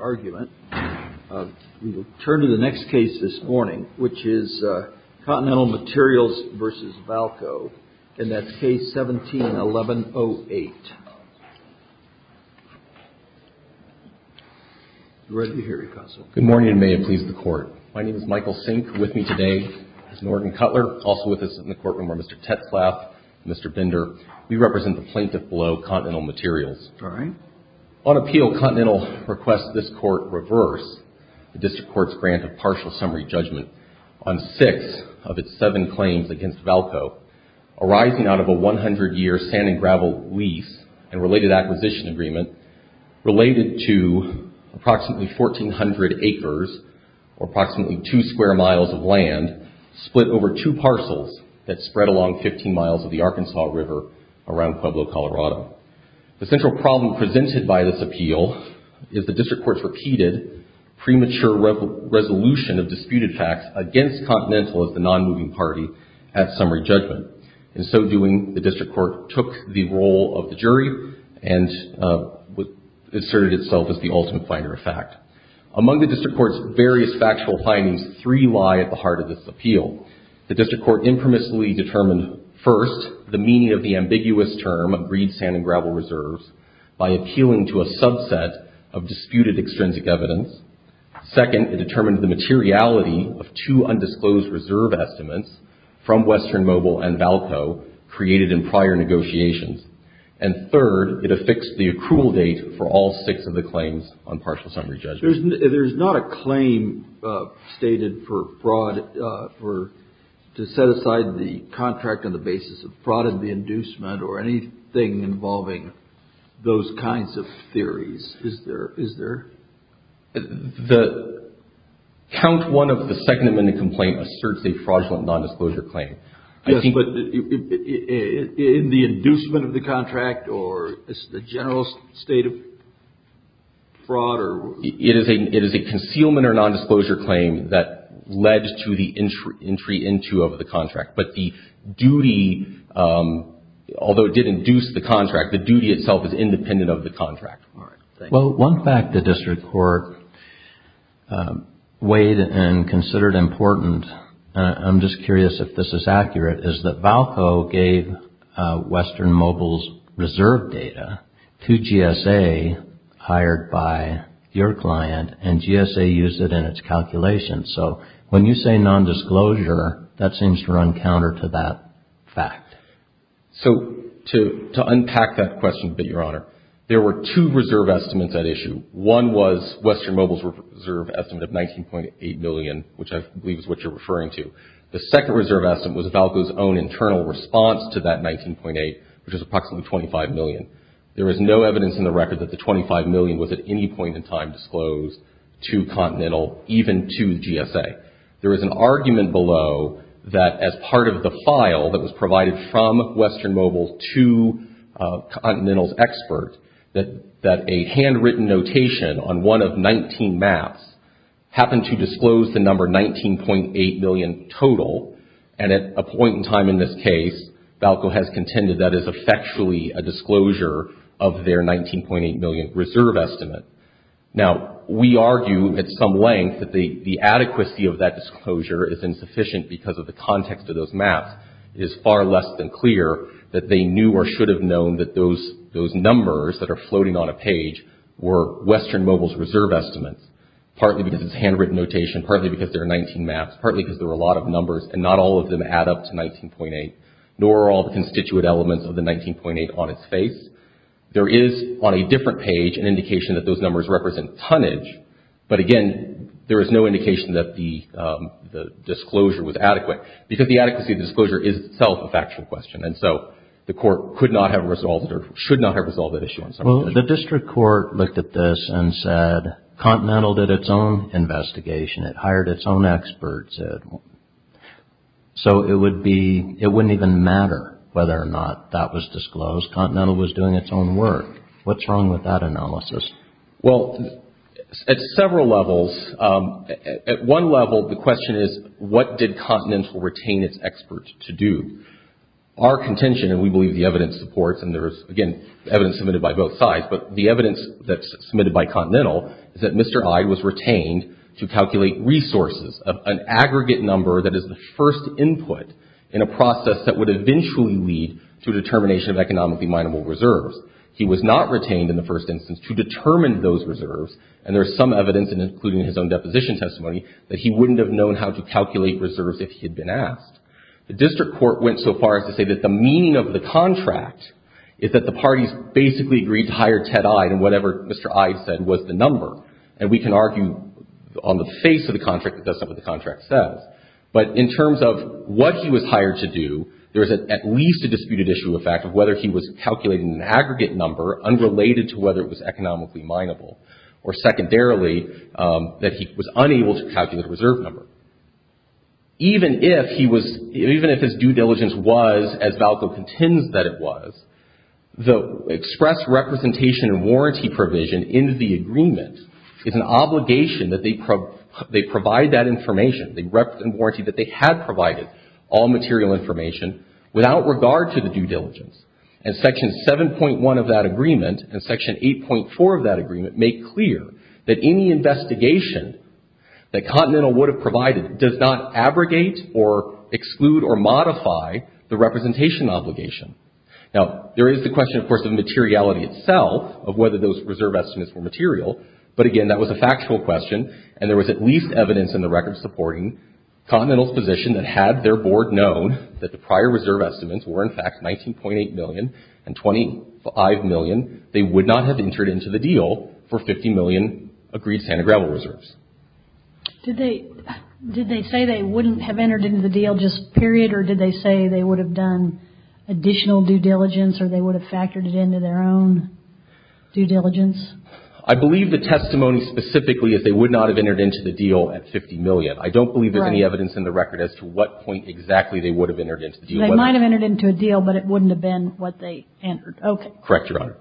argument. We will turn to the next case this morning, which is Continental Materials v. Valco, and that's case 17-1108. I'm ready to hear you, Counsel. Good morning, and may it please the Court. My name is Michael Sink. With me today is Norton Cutler. Also with us in the courtroom are Mr. Tetzlaff and Mr. Binder. We represent the plaintiff below, Continental Materials. All right. On appeal, Continental requests this Court reverse the District Court's grant of partial summary judgment on six of its seven claims against Valco arising out of a 100-year sand and gravel lease and related acquisition agreement related to approximately 1,400 acres, or approximately two square miles of land split over two parcels that spread along 15 miles of the Arkansas River around Pueblo, Colorado. The central problem presented by this appeal is the District Court's repeated premature resolution of disputed facts against Continental as the nonmoving party at summary judgment. In so doing, the District Court took the role of the jury and asserted itself as the ultimate finder of fact. Among the District Court's various factual findings, three lie at the heart of this appeal. First, the meaning of the ambiguous term of reed, sand, and gravel reserves by appealing to a subset of disputed extrinsic evidence. Second, it determined the materiality of two undisclosed reserve estimates from Western Mobile and Valco created in prior negotiations. And third, it affixed the accrual date for all six of the claims on partial summary judgment. There's not a claim stated for fraud to set aside the contract on the basis of fraud in the inducement or anything involving those kinds of theories, is there? The count one of the second amendment complaint asserts a fraudulent nondisclosure claim. Yes, but in the inducement of the contract or the general state of fraud? It is a concealment or nondisclosure claim that led to the entry into of the contract. But the duty, although it did induce the contract, the duty itself is independent of the contract. Well, one fact the District Court weighed and considered important, and I'm just curious if this is and GSA used it in its calculations. So when you say nondisclosure, that seems to run counter to that fact. So to unpack that question a bit, Your Honor, there were two reserve estimates at issue. One was Western Mobile's reserve estimate of $19.8 million, which I believe is what you're referring to. The second reserve estimate was Valco's own internal response to that $19.8 million, which is approximately $25 million. There is no evidence in the record that the $25 million was at any point in time disclosed to Continental, even to GSA. There is an argument below that as part of the file that was provided from Western Mobile to Continental's expert, that a handwritten notation on one of 19 maps happened to disclose the number $19.8 million total. And at a point in time in this case, Valco has contended that is effectually a disclosure of their $19.8 million reserve estimate. Now, we argue at some length that the adequacy of that disclosure is insufficient because of the context of those maps. It is far less than clear that they knew or should have known that those numbers that are floating on a page were Western Mobile's reserve estimates, partly because it's handwritten notation, partly because there are 19 maps, partly because there are a lot of numbers and not all of them add up to $19.8, nor are all the constituent elements of the $19.8 on its face. There is, on a different page, an indication that those numbers represent tonnage, but again, there is no indication that the disclosure was adequate because the adequacy of the disclosure is itself a factual question. And so, the Court could not have resolved or should not have resolved that issue. The District Court looked at this and said, Continental did its own investigation. It hired its own experts. So, it wouldn't even matter whether or not that was disclosed. Continental was doing its own work. What's wrong with that analysis? Well, at several levels, at one level, the question is, what did Continental retain its experts to do? Our contention, and we believe the evidence supports, and there is, again, evidence submitted by both sides, but the evidence that's submitted by Continental is that Mr. Hyde was retained to calculate resources, an aggregate number that is the first input in a process that would eventually lead to determination of economically minable reserves. He was not retained in the first instance to determine those reserves, and there is some evidence, including his own deposition testimony, that he wouldn't have known how to calculate reserves if he had been asked. The District Court went so far as to say that the meaning of the contract is that the parties basically agreed to hire Ted Hyde and whatever Mr. Hyde said was the number, and we can argue on the face of the contract that that's not what the contract says. But in terms of what he was hired to do, there is at least a disputed issue of fact of whether he was calculating an aggregate number unrelated to whether it was economically minable or, secondarily, that he was unable to calculate a reserve number. Even if he was, even if his due diligence was, as Valco contends that it was, the express representation and warranty provision in the agreement is an obligation that they provide that information, the warranty that they had provided, all material information, without regard to the due diligence. And Section 7.1 of that agreement and Section 8.4 of that agreement make clear that any investigation that Continental would have provided does not abrogate or exclude or modify the representation obligation. Now, there is the question, of course, of materiality itself, of whether those reserve estimates were material. But again, that was a factual question, and there was at least evidence in the record supporting Continental's position that had their board known that the prior reserve estimates were, in fact, 19.8 million and 25 million, they would not have entered into the deal for 50 million agreed sand and gravel reserves. Did they say they wouldn't have entered into the deal just period? Or did they say they would have done additional due diligence or they would have factored it into their own due diligence? I believe the testimony specifically is they would not have entered into the deal at 50 million. I don't believe there's any evidence in the record as to what point exactly they would have entered into the deal. They might have entered into a deal, but it wouldn't have been what they entered. Okay. Correct, Your Honor.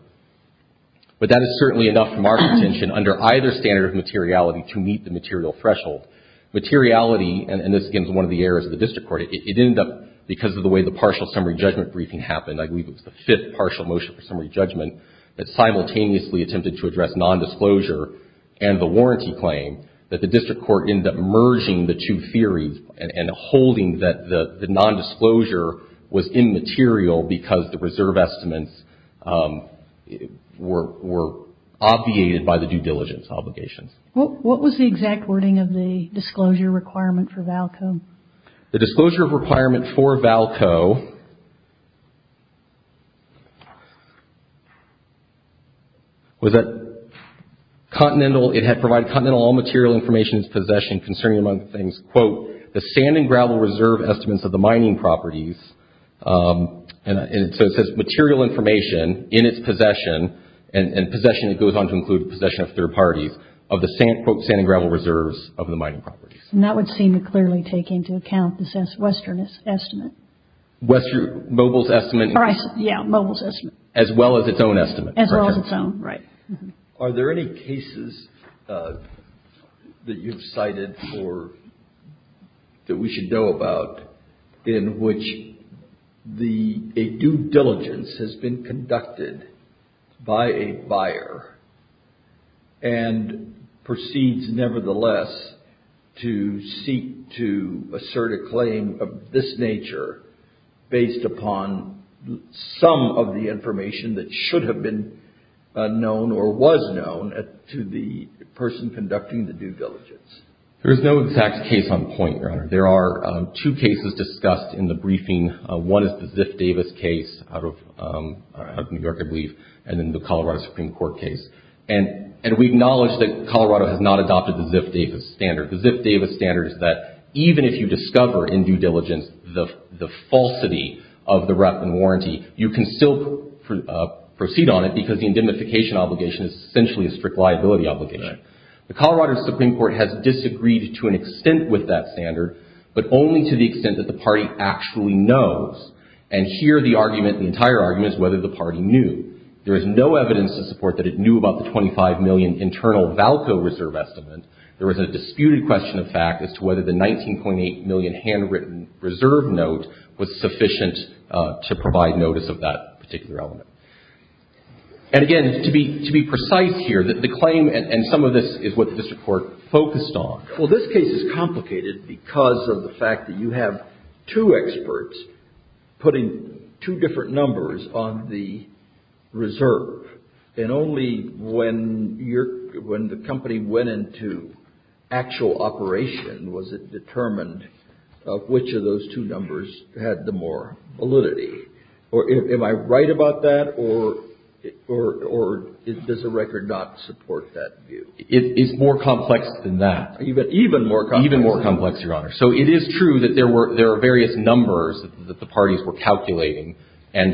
But that is certainly enough from our contention under either standard of materiality to meet the material threshold. Materiality, and this again is one of the errors of the district court, it ended up, because of the way the partial summary judgment briefing happened, I believe it was the fifth partial motion for summary judgment, that simultaneously attempted to address nondisclosure and the warranty claim, that the district court ended up merging the two theories and holding that the nondisclosure was immaterial because the reserve estimates were obviated by the due diligence obligations. What was the exact wording of the disclosure requirement for Valco? The disclosure requirement for Valco was that Continental, it had provided Continental all material information in its possession concerning among things, quote, the sand and gravel reserve estimates of the mining properties, and so it says material information in its possession, and possession it goes on to include possession of third parties of the, quote, sand and gravel reserves of the mining properties. And that would seem to clearly take into account this Western estimate. Mobile's estimate. Yeah, Mobile's estimate. As well as its own estimate. As well as its own, right. Are there any cases that you've cited for, that we should know about, in which a due diligence has been conducted by a buyer and proceeds, nevertheless, to seek to assert a claim of this nature based upon some of the information that should have been known or was known to the person conducting the due diligence? There is no exact case on point, Your Honor. There are two cases discussed in the briefing. One is the Ziff-Davis case out of New York, I believe, and then the Colorado Supreme Court case. And we acknowledge that Colorado has not adopted the Ziff-Davis standard. The Ziff-Davis standard is that even if you discover in due diligence the falsity of the rep and warranty, you can still proceed on it, because the indemnification obligation is essentially a strict liability obligation. The Colorado Supreme Court has disagreed to an extent with that standard, but only to the extent that the party actually knows. And here the argument, the entire argument, is whether the party knew. There is no evidence to support that it knew about the $25 million internal Valco reserve estimate. There was a disputed question of fact as to whether the $19.8 million handwritten reserve note was sufficient to provide notice of that particular element. And, again, to be precise here, the claim and some of this is what the district court focused on. Well, this case is complicated because of the fact that you have two experts putting two different numbers on the reserve. And only when the company went into actual operation was it determined which of those two numbers had the more validity. Am I right about that, or does the record not support that view? It's more complex than that. Even more complex? Even more complex, Your Honor. So it is true that there are various numbers that the parties were calculating, and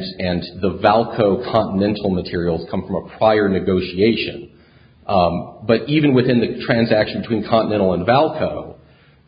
the Valco continental materials come from a prior negotiation. But even within the transaction between Continental and Valco,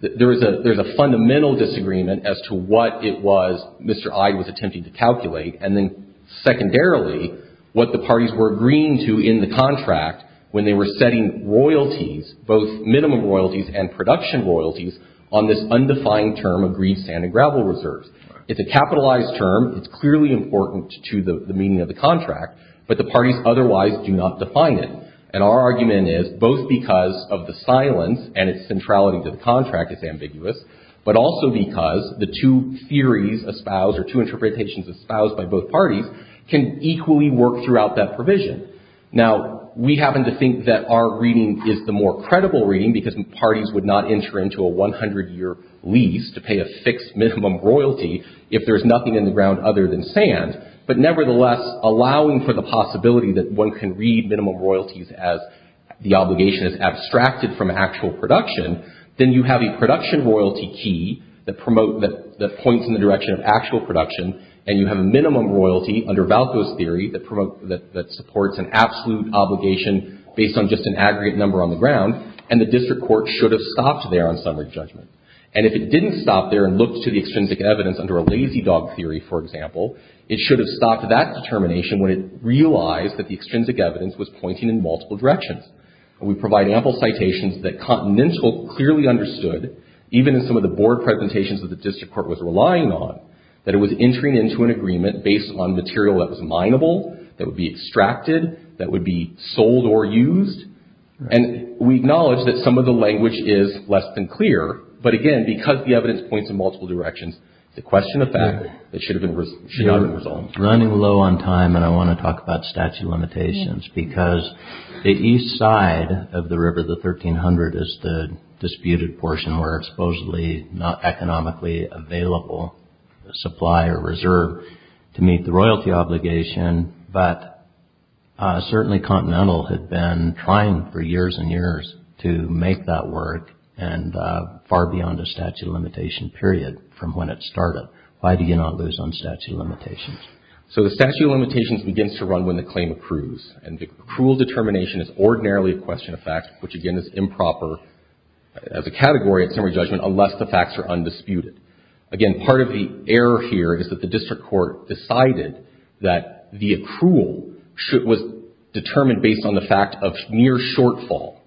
there's a fundamental disagreement as to what it was Mr. Ide was attempting to calculate, and then secondarily, what the parties were agreeing to in the contract when they were setting royalties, both minimum royalties and production royalties, on this undefined term of green sand and gravel reserves. It's a capitalized term. It's clearly important to the meaning of the contract, but the parties otherwise do not define it. And our argument is both because of the silence and its centrality to the contract is ambiguous, but also because the two theories espoused or two interpretations espoused by both parties can equally work throughout that provision. Now, we happen to think that our reading is the more credible reading, because parties would not enter into a 100-year lease to pay a fixed minimum royalty if there's nothing in the ground other than sand. But nevertheless, allowing for the possibility that one can read minimum royalties as the obligation is abstracted from actual production, then you have a production royalty key that points in the direction of actual production, and you have a minimum royalty under Valco's theory that supports an absolute obligation based on just an aggregate number on the ground, and the district court should have stopped there on summary judgment. And if it didn't stop there and look to the extrinsic evidence under a lazy dog theory, for example, it should have stopped that determination when it realized that the extrinsic evidence was pointing in multiple directions. We provide ample citations that Continental clearly understood, even in some of the board presentations that the district court was relying on, that it was entering into an agreement based on material that was mineable, that would be extracted, that would be sold or used. And we acknowledge that some of the language is less than clear, but again, because the evidence points in multiple directions, it's a question of fact that should have been resolved. Running low on time, and I want to talk about statute of limitations, because the east side of the river, the 1300, is the disputed portion, where supposedly not economically available supply or reserve to meet the royalty obligation, but certainly Continental had been trying for years and years to make that work, and far beyond a statute of limitation period from when it started. Why do you not lose on statute of limitations? So the statute of limitations begins to run when the claim accrues, and the accrual determination is ordinarily a question of fact, which again is improper as a category at summary judgment unless the facts are undisputed. Again, part of the error here is that the district court decided that the accrual was determined based on the fact of near shortfall.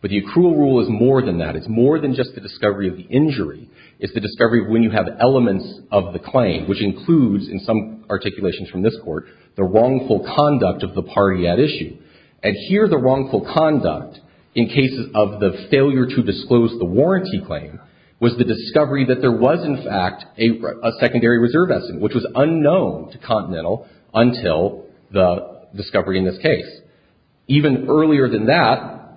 But the accrual rule is more than that. It's more than just the discovery of the injury. It's the discovery of when you have elements of the claim, which includes in some articulations from this court the wrongful conduct of the party at issue. And here the wrongful conduct in cases of the failure to disclose the warranty claim was the discovery that there was in fact a secondary reserve estimate, which was unknown to Continental until the discovery in this case. Even earlier than that,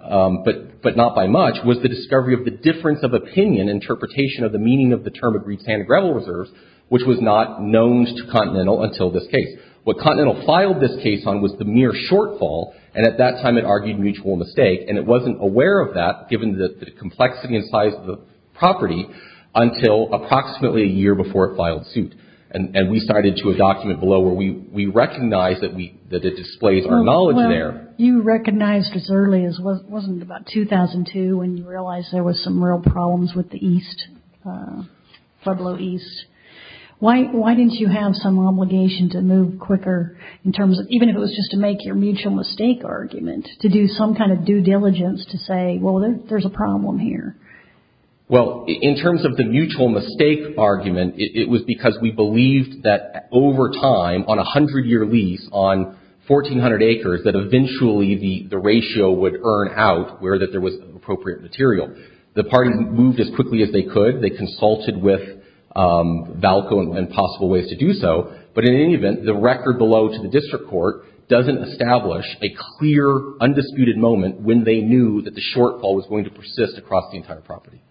but not by much, was the discovery of the difference of opinion interpretation of the meaning of the term agreed standard gravel reserves, which was not known to Continental until this case. What Continental filed this case on was the near shortfall, and at that time it argued mutual mistake, and it wasn't aware of that given the complexity and size of the property until approximately a year before it filed suit. And we cited to a document below where we recognize that it displays our knowledge there. Well, you recognized as early as, wasn't it about 2002 when you realized there was some real problems with the East, Pueblo East? Why didn't you have some obligation to move quicker in terms of, even if it was just to make your mutual mistake argument, to do some kind of due diligence to say, well, there's a problem here? Well, in terms of the mutual mistake argument, it was because we believed that over time, on a hundred-year lease on 1,400 acres, that eventually the ratio would earn out where that there was appropriate material. The party moved as quickly as they could. They consulted with Valco and possible ways to do so, but in any event, the record below to the district court doesn't establish a clear, undisputed moment when they knew that the shortfall was going to persist across the entire property.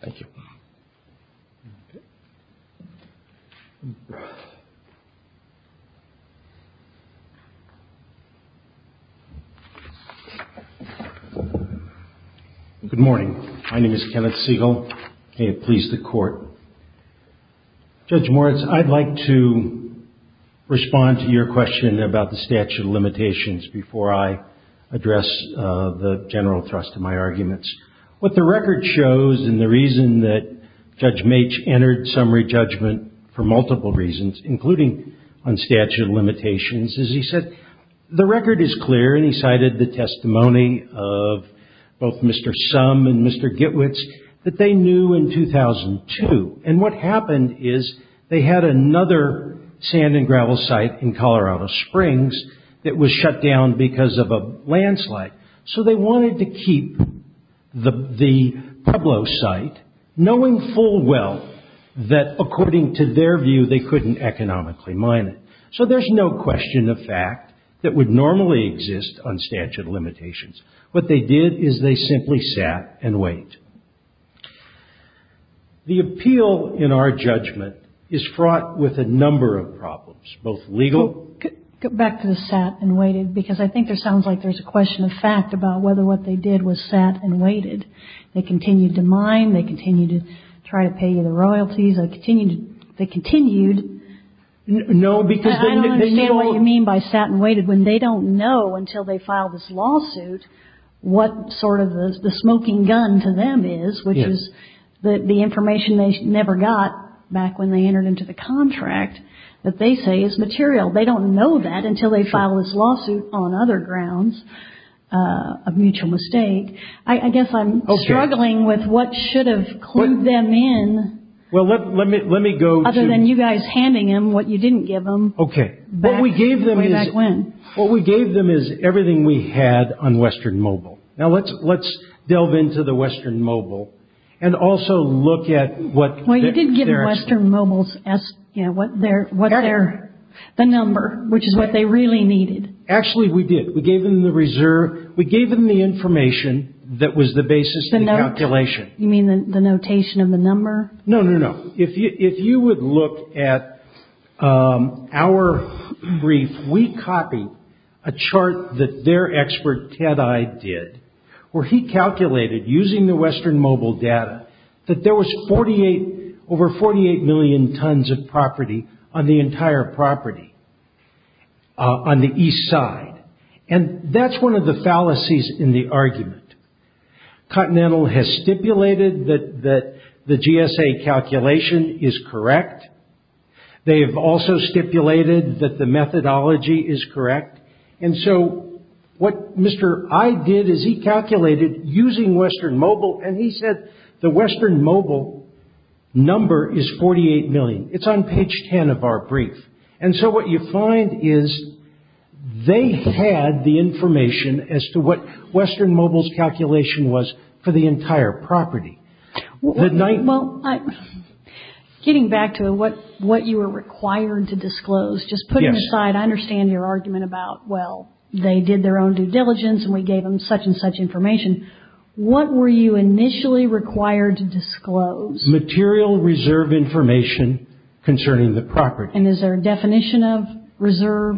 Thank you. Good morning. My name is Kenneth Siegel. May it please the Court. Judge Moritz, I'd like to respond to your question about the statute of limitations before I address the general thrust of my arguments. What the record shows, and the reason that Judge Meech entered summary judgment for multiple reasons, including on statute of limitations, is he said the record is clear, and he cited the testimony of both Mr. Summ and Mr. Gitwitz, that they knew in 2002, and what happened is they had another sand and gravel site in Colorado Springs that was shut down because of a landslide. So they wanted to keep the Pueblo site, knowing full well that according to their view, they couldn't economically mine it. So there's no question of fact that would normally exist on statute of limitations. What they did is they simply sat and waited. The appeal in our judgment is fraught with a number of problems, both legal... Go back to the sat and waited, because I think there sounds like there's a question of fact about whether what they did was sat and waited. They continued to mine. They continued to try to pay you the royalties. They continued... No, because... I don't understand what you mean by sat and waited when they don't know until they file this lawsuit what sort of the smoking gun to them is, which is the information they never got back when they entered into the contract that they say is material. They don't know that until they file this lawsuit on other grounds of mutual mistake. I guess I'm struggling with what should have clued them in... Well, let me go to... ...other than you guys handing them what you didn't give them... Okay. ...way back when. What we gave them is everything we had on Western Mobile. Now let's delve into the Western Mobile and also look at what... ...the number, which is what they really needed. Actually, we did. We gave them the information that was the basis of the calculation. You mean the notation of the number? No, no, no. If you would look at our brief, we copied a chart that their expert, Ted Eye, did, where he calculated using the Western Mobile data that there was over 48 million tons of property on the entire property on the east side. That's one of the fallacies in the argument. Continental has stipulated that the GSA calculation is correct. They have also stipulated that the methodology is correct. What Mr. Eye did is he calculated using Western Mobile, and he said the Western Mobile number is 48 million. It's on page 10 of our brief. And so what you find is they had the information as to what Western Mobile's calculation was for the entire property. Well, getting back to what you were required to disclose, just put it aside. I understand your argument about, well, they did their own due diligence, and we gave them such and such information. What were you initially required to disclose? Material reserve information concerning the property. And is there a definition of reserve,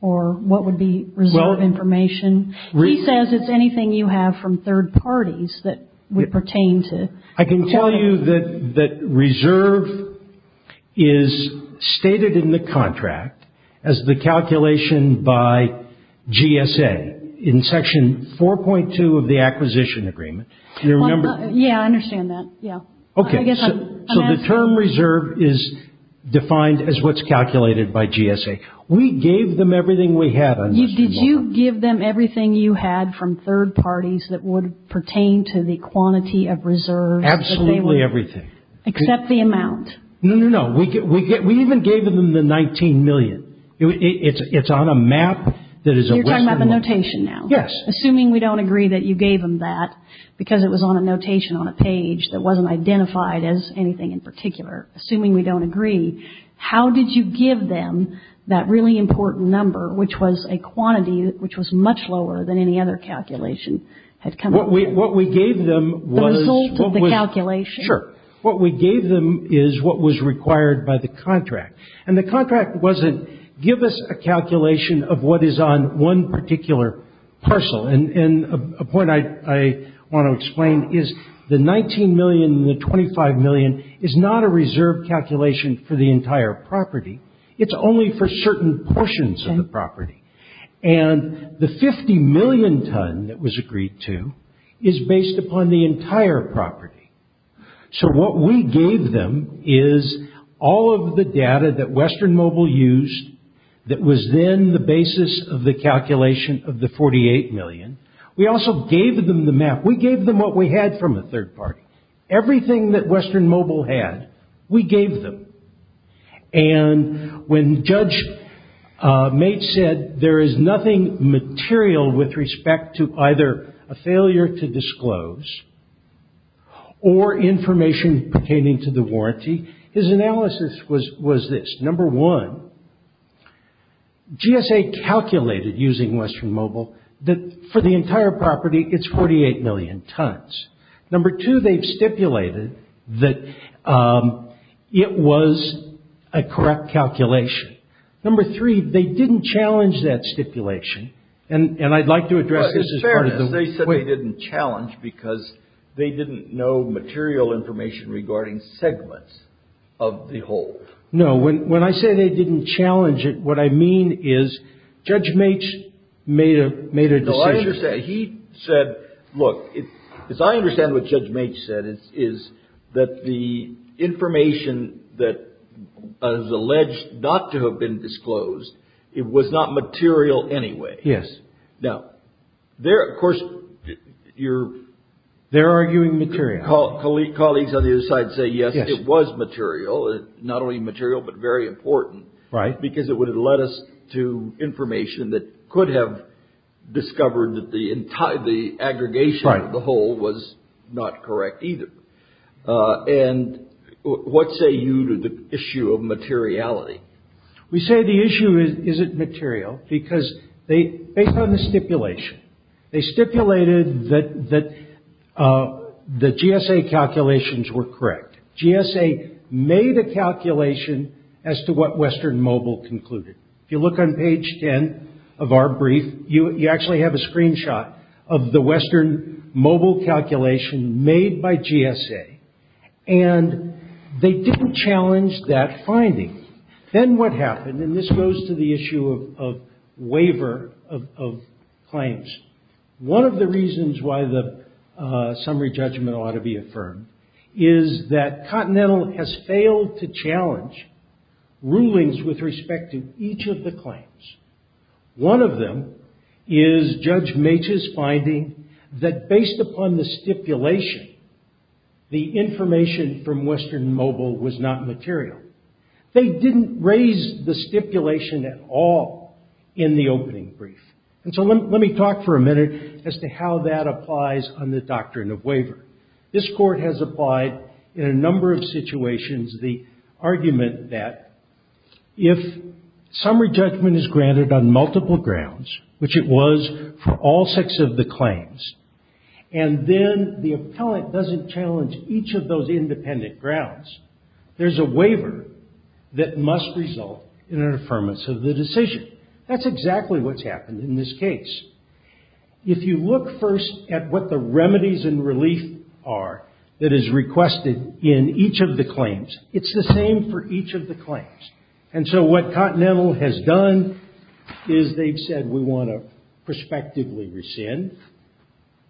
or what would be reserve information? He says it's anything you have from third parties that would pertain to... I can tell you that reserve is stated in the contract as the calculation by GSA. Again, in section 4.2 of the acquisition agreement... Yeah, I understand that. Okay, so the term reserve is defined as what's calculated by GSA. We gave them everything we had on Western Mobile. Did you give them everything you had from third parties that would pertain to the quantity of reserves? Absolutely everything. Except the amount. No, no, no. We even gave them the 19 million. It's on a map that is a Western Mobile. So you're talking about the notation now? Yes. Assuming we don't agree that you gave them that, because it was on a notation on a page that wasn't identified as anything in particular, assuming we don't agree, how did you give them that really important number, which was a quantity which was much lower than any other calculation had come up with? What we gave them was... The result of the calculation? Sure. What we gave them is what was required by the contract. And the contract wasn't give us a calculation of what is on one particular parcel. And a point I want to explain is the 19 million and the 25 million is not a reserve calculation for the entire property. It's only for certain portions of the property. And the 50 million ton that was agreed to is based upon the entire property. So what we gave them is all of the data that Western Mobile used that was then the basis of the calculation of the 48 million. We also gave them the map. We gave them what we had from a third party. Everything that Western Mobile had, we gave them. And when Judge Mates said, that there is nothing material with respect to either a failure to disclose or information pertaining to the warranty, his analysis was this. Number one, GSA calculated using Western Mobile that for the entire property, it's 48 million tons. Number two, they've stipulated that it was a correct calculation. Number three, they didn't challenge that stipulation. And I'd like to address this as part of the way. Fairness, they said they didn't challenge because they didn't know material information regarding segments of the whole. No. When I say they didn't challenge it, what I mean is Judge Mates made a decision. No, I understand. He said, look, as I understand what Judge Mates said, is that the information that is alleged not to have been disclosed, it was not material anyway. Yes. Now, of course, you're... They're arguing material. Colleagues on the other side say, yes, it was material. Not only material, but very important. Right. Because it would have led us to information that could have discovered that the aggregation of the whole was not correct either. And what say you to the issue of materiality? We say the issue isn't material because based on the stipulation, they stipulated that the GSA calculations were correct. GSA made a calculation as to what Western Mobile concluded. If you look on page 10 of our brief, you actually have a screenshot of the Western Mobile calculation made by GSA. And they didn't challenge that finding. Then what happened, and this goes to the issue of waiver of claims. One of the reasons why the summary judgment ought to be affirmed is that one of them is Judge Maitch's finding that based upon the stipulation, the information from Western Mobile was not material. They didn't raise the stipulation at all in the opening brief. And so let me talk for a minute as to how that applies on the doctrine of waiver. This court has applied in a number of situations the argument that if summary judgment is granted on multiple grounds, which it was for all six of the claims, and then the appellant doesn't challenge each of those independent grounds, there's a waiver that must result in an affirmance of the decision. That's exactly what's happened in this case. If you look first at what the remedies and relief are that is requested in each of the claims, it's the same for each of the claims. And so what Continental has done is they've said we want to prospectively rescind,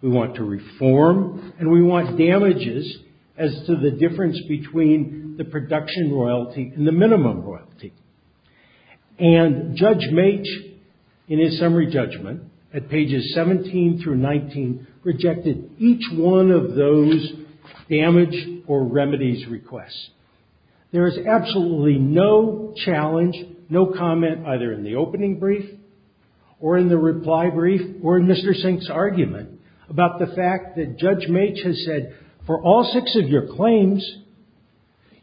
we want to reform, and we want damages as to the difference between the production royalty and the minimum royalty. And Judge Maitch, in his summary judgment, at pages 17 through 19, rejected each one of those damage or remedies requests. There is absolutely no challenge, no comment either in the opening brief or in the reply brief or in Mr. Sink's argument about the fact that Judge Maitch has said for all six of your claims,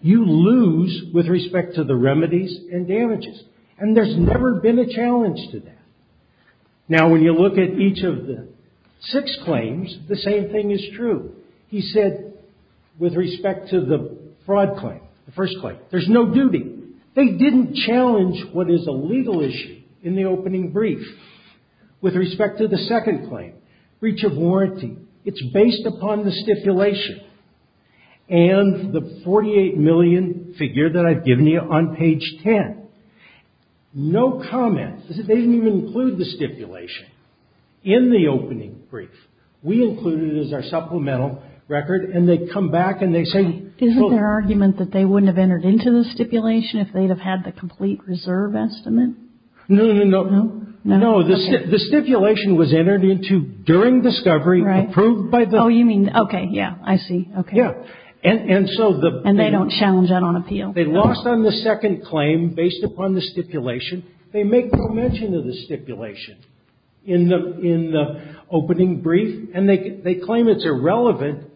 you lose with respect to the remedies and damages. And there's never been a challenge to that. Now, when you look at each of the six claims, the same thing is true. He said with respect to the fraud claim, the first claim, there's no duty. They didn't challenge what is a legal issue in the opening brief. With respect to the second claim, breach of warranty, it's based upon the stipulation and the $48 million figure that I've given you on page 10. No comment. They didn't even include the stipulation in the opening brief. We included it as our supplemental record and they come back and they say... Isn't there argument that they wouldn't have entered into the stipulation if they'd have had the complete reserve estimate? No, no, no. No, the stipulation was entered into during discovery, approved by the... Oh, you mean, okay, yeah, I see. Okay. Yeah. And so the... And they don't challenge that on appeal. They lost on the second claim based upon the stipulation. They make no mention of the stipulation in the opening brief and they claim it's irrelevant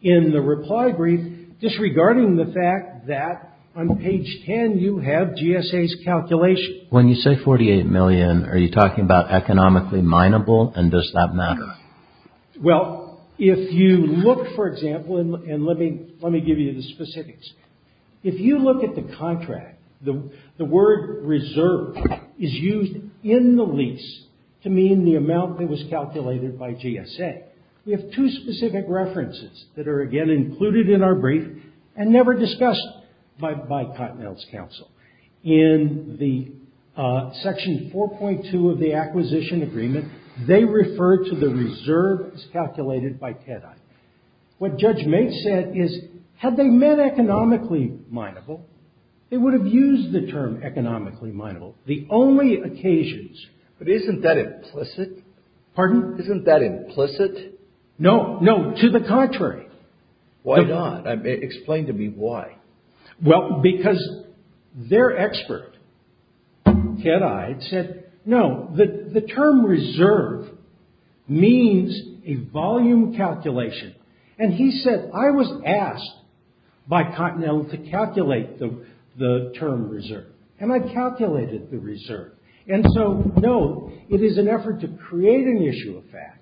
in the reply brief disregarding the fact that on page 10 you have GSA's calculation. When you say $48 million, are you talking about economically mineable and does that matter? Well, if you look, for example, and let me give you the specifics. If you look at the contract, the word reserve is used in the lease to mean the amount that was calculated by GSA. We have two specific references that are, again, included in our brief and never discussed by Continental's counsel. In the section 4.2 of the acquisition agreement, they refer to the reserve as calculated by TEDI. What Judge Maitz said is, had they meant economically mineable, they would have used the term economically mineable. The only occasions... But isn't that implicit? Pardon? Isn't that implicit? No, no. To the contrary. Why not? Explain to me why. Well, because their expert, TEDI, said no, the term reserve means a volume calculation. And he said, I was asked by Continental to calculate the term reserve. And I calculated the reserve. And so, no, it is an effort to create an issue of fact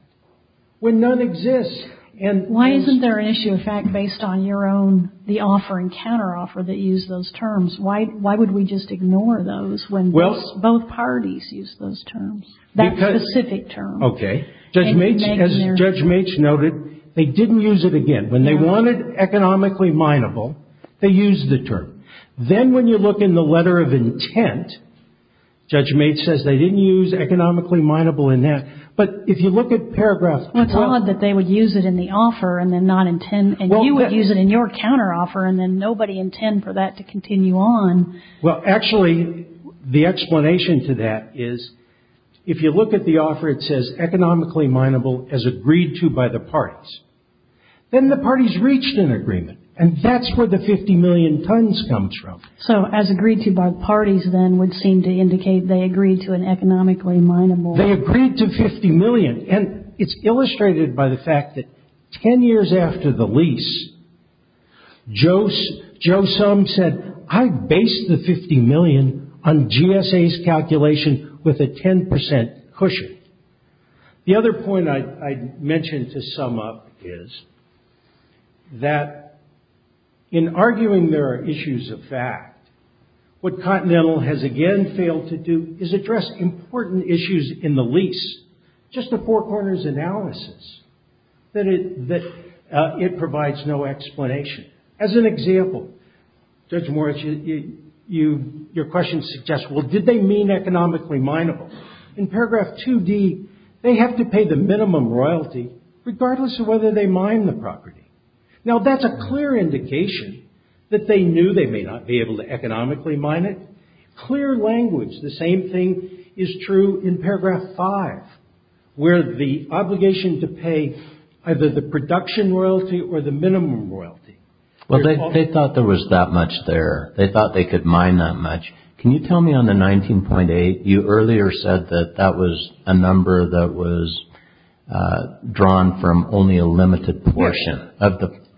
when none exists. Why isn't there an issue of fact based on your own, the offer and counteroffer that use those terms? Why would we just ignore those when both parties use those terms? That specific term. Okay. Judge Maitz noted they didn't use it again. When they wanted economically mineable, they used the term. Then when you look in the letter of intent, Judge Maitz says they didn't use economically mineable in that. But if you look at paragraph... It's odd that they would use it in the offer and then not intend. And you would use it in your counteroffer and then nobody intend for that to continue on. Well, actually, the explanation to that is if you look at the offer, it says economically mineable as agreed to by the parties, then the parties reached an agreement. And that's where the 50 million tons comes from. So as agreed to by the parties, then, would seem to indicate they agreed to an economically mineable... They agreed to 50 million. And it's illustrated by the fact that 10 years after the lease, Joe Sum said, I based the 50 million on GSA's calculation with a 10% cushion. The other point I'd mention to sum up is that in arguing there are issues of fact, what Continental has again failed to do is address important issues in the lease. Just a four corners analysis that provides no explanation. As an example, Judge Moritz, your question suggests, well, did they mean economically mineable? In paragraph 2D, they have to pay the minimum royalty regardless of whether they mine the property. Now, that's a clear indication that they knew they may not be able to economically mine it. Clear language. The same thing is true in paragraph 5, where the obligation to pay either the production royalty or the minimum royalty. Well, they thought there was that much there. They thought they could mine that much. Can you tell me on the 19.8, you earlier said that that was a number that was drawn from only a limited portion.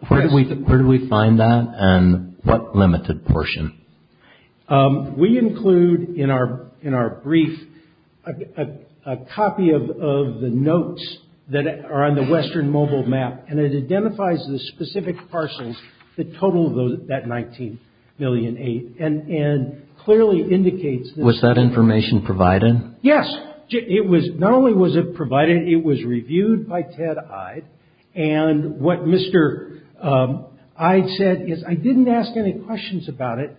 Where do we find that and what limited portion? We include in our brief a copy of the notes that are on the Western mobile map and it identifies the specific parcels that total that 19.8 million and clearly indicates that. Was that information provided? Yes. Not only was it provided, it was reviewed by Ted Eide and what Mr. Eide said is I didn't ask any questions about it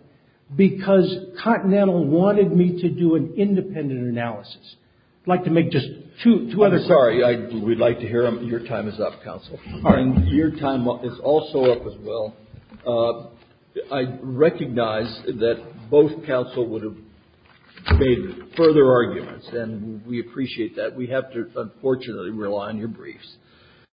because Continental wanted me to do an independent analysis. I'd like to make just two other points. I'm sorry. We'd like to hear them. Your time is up, Counsel. Your time is also up as well. I recognize that both counsel would have made further arguments and we appreciate that. We have to unfortunately rely on your briefs.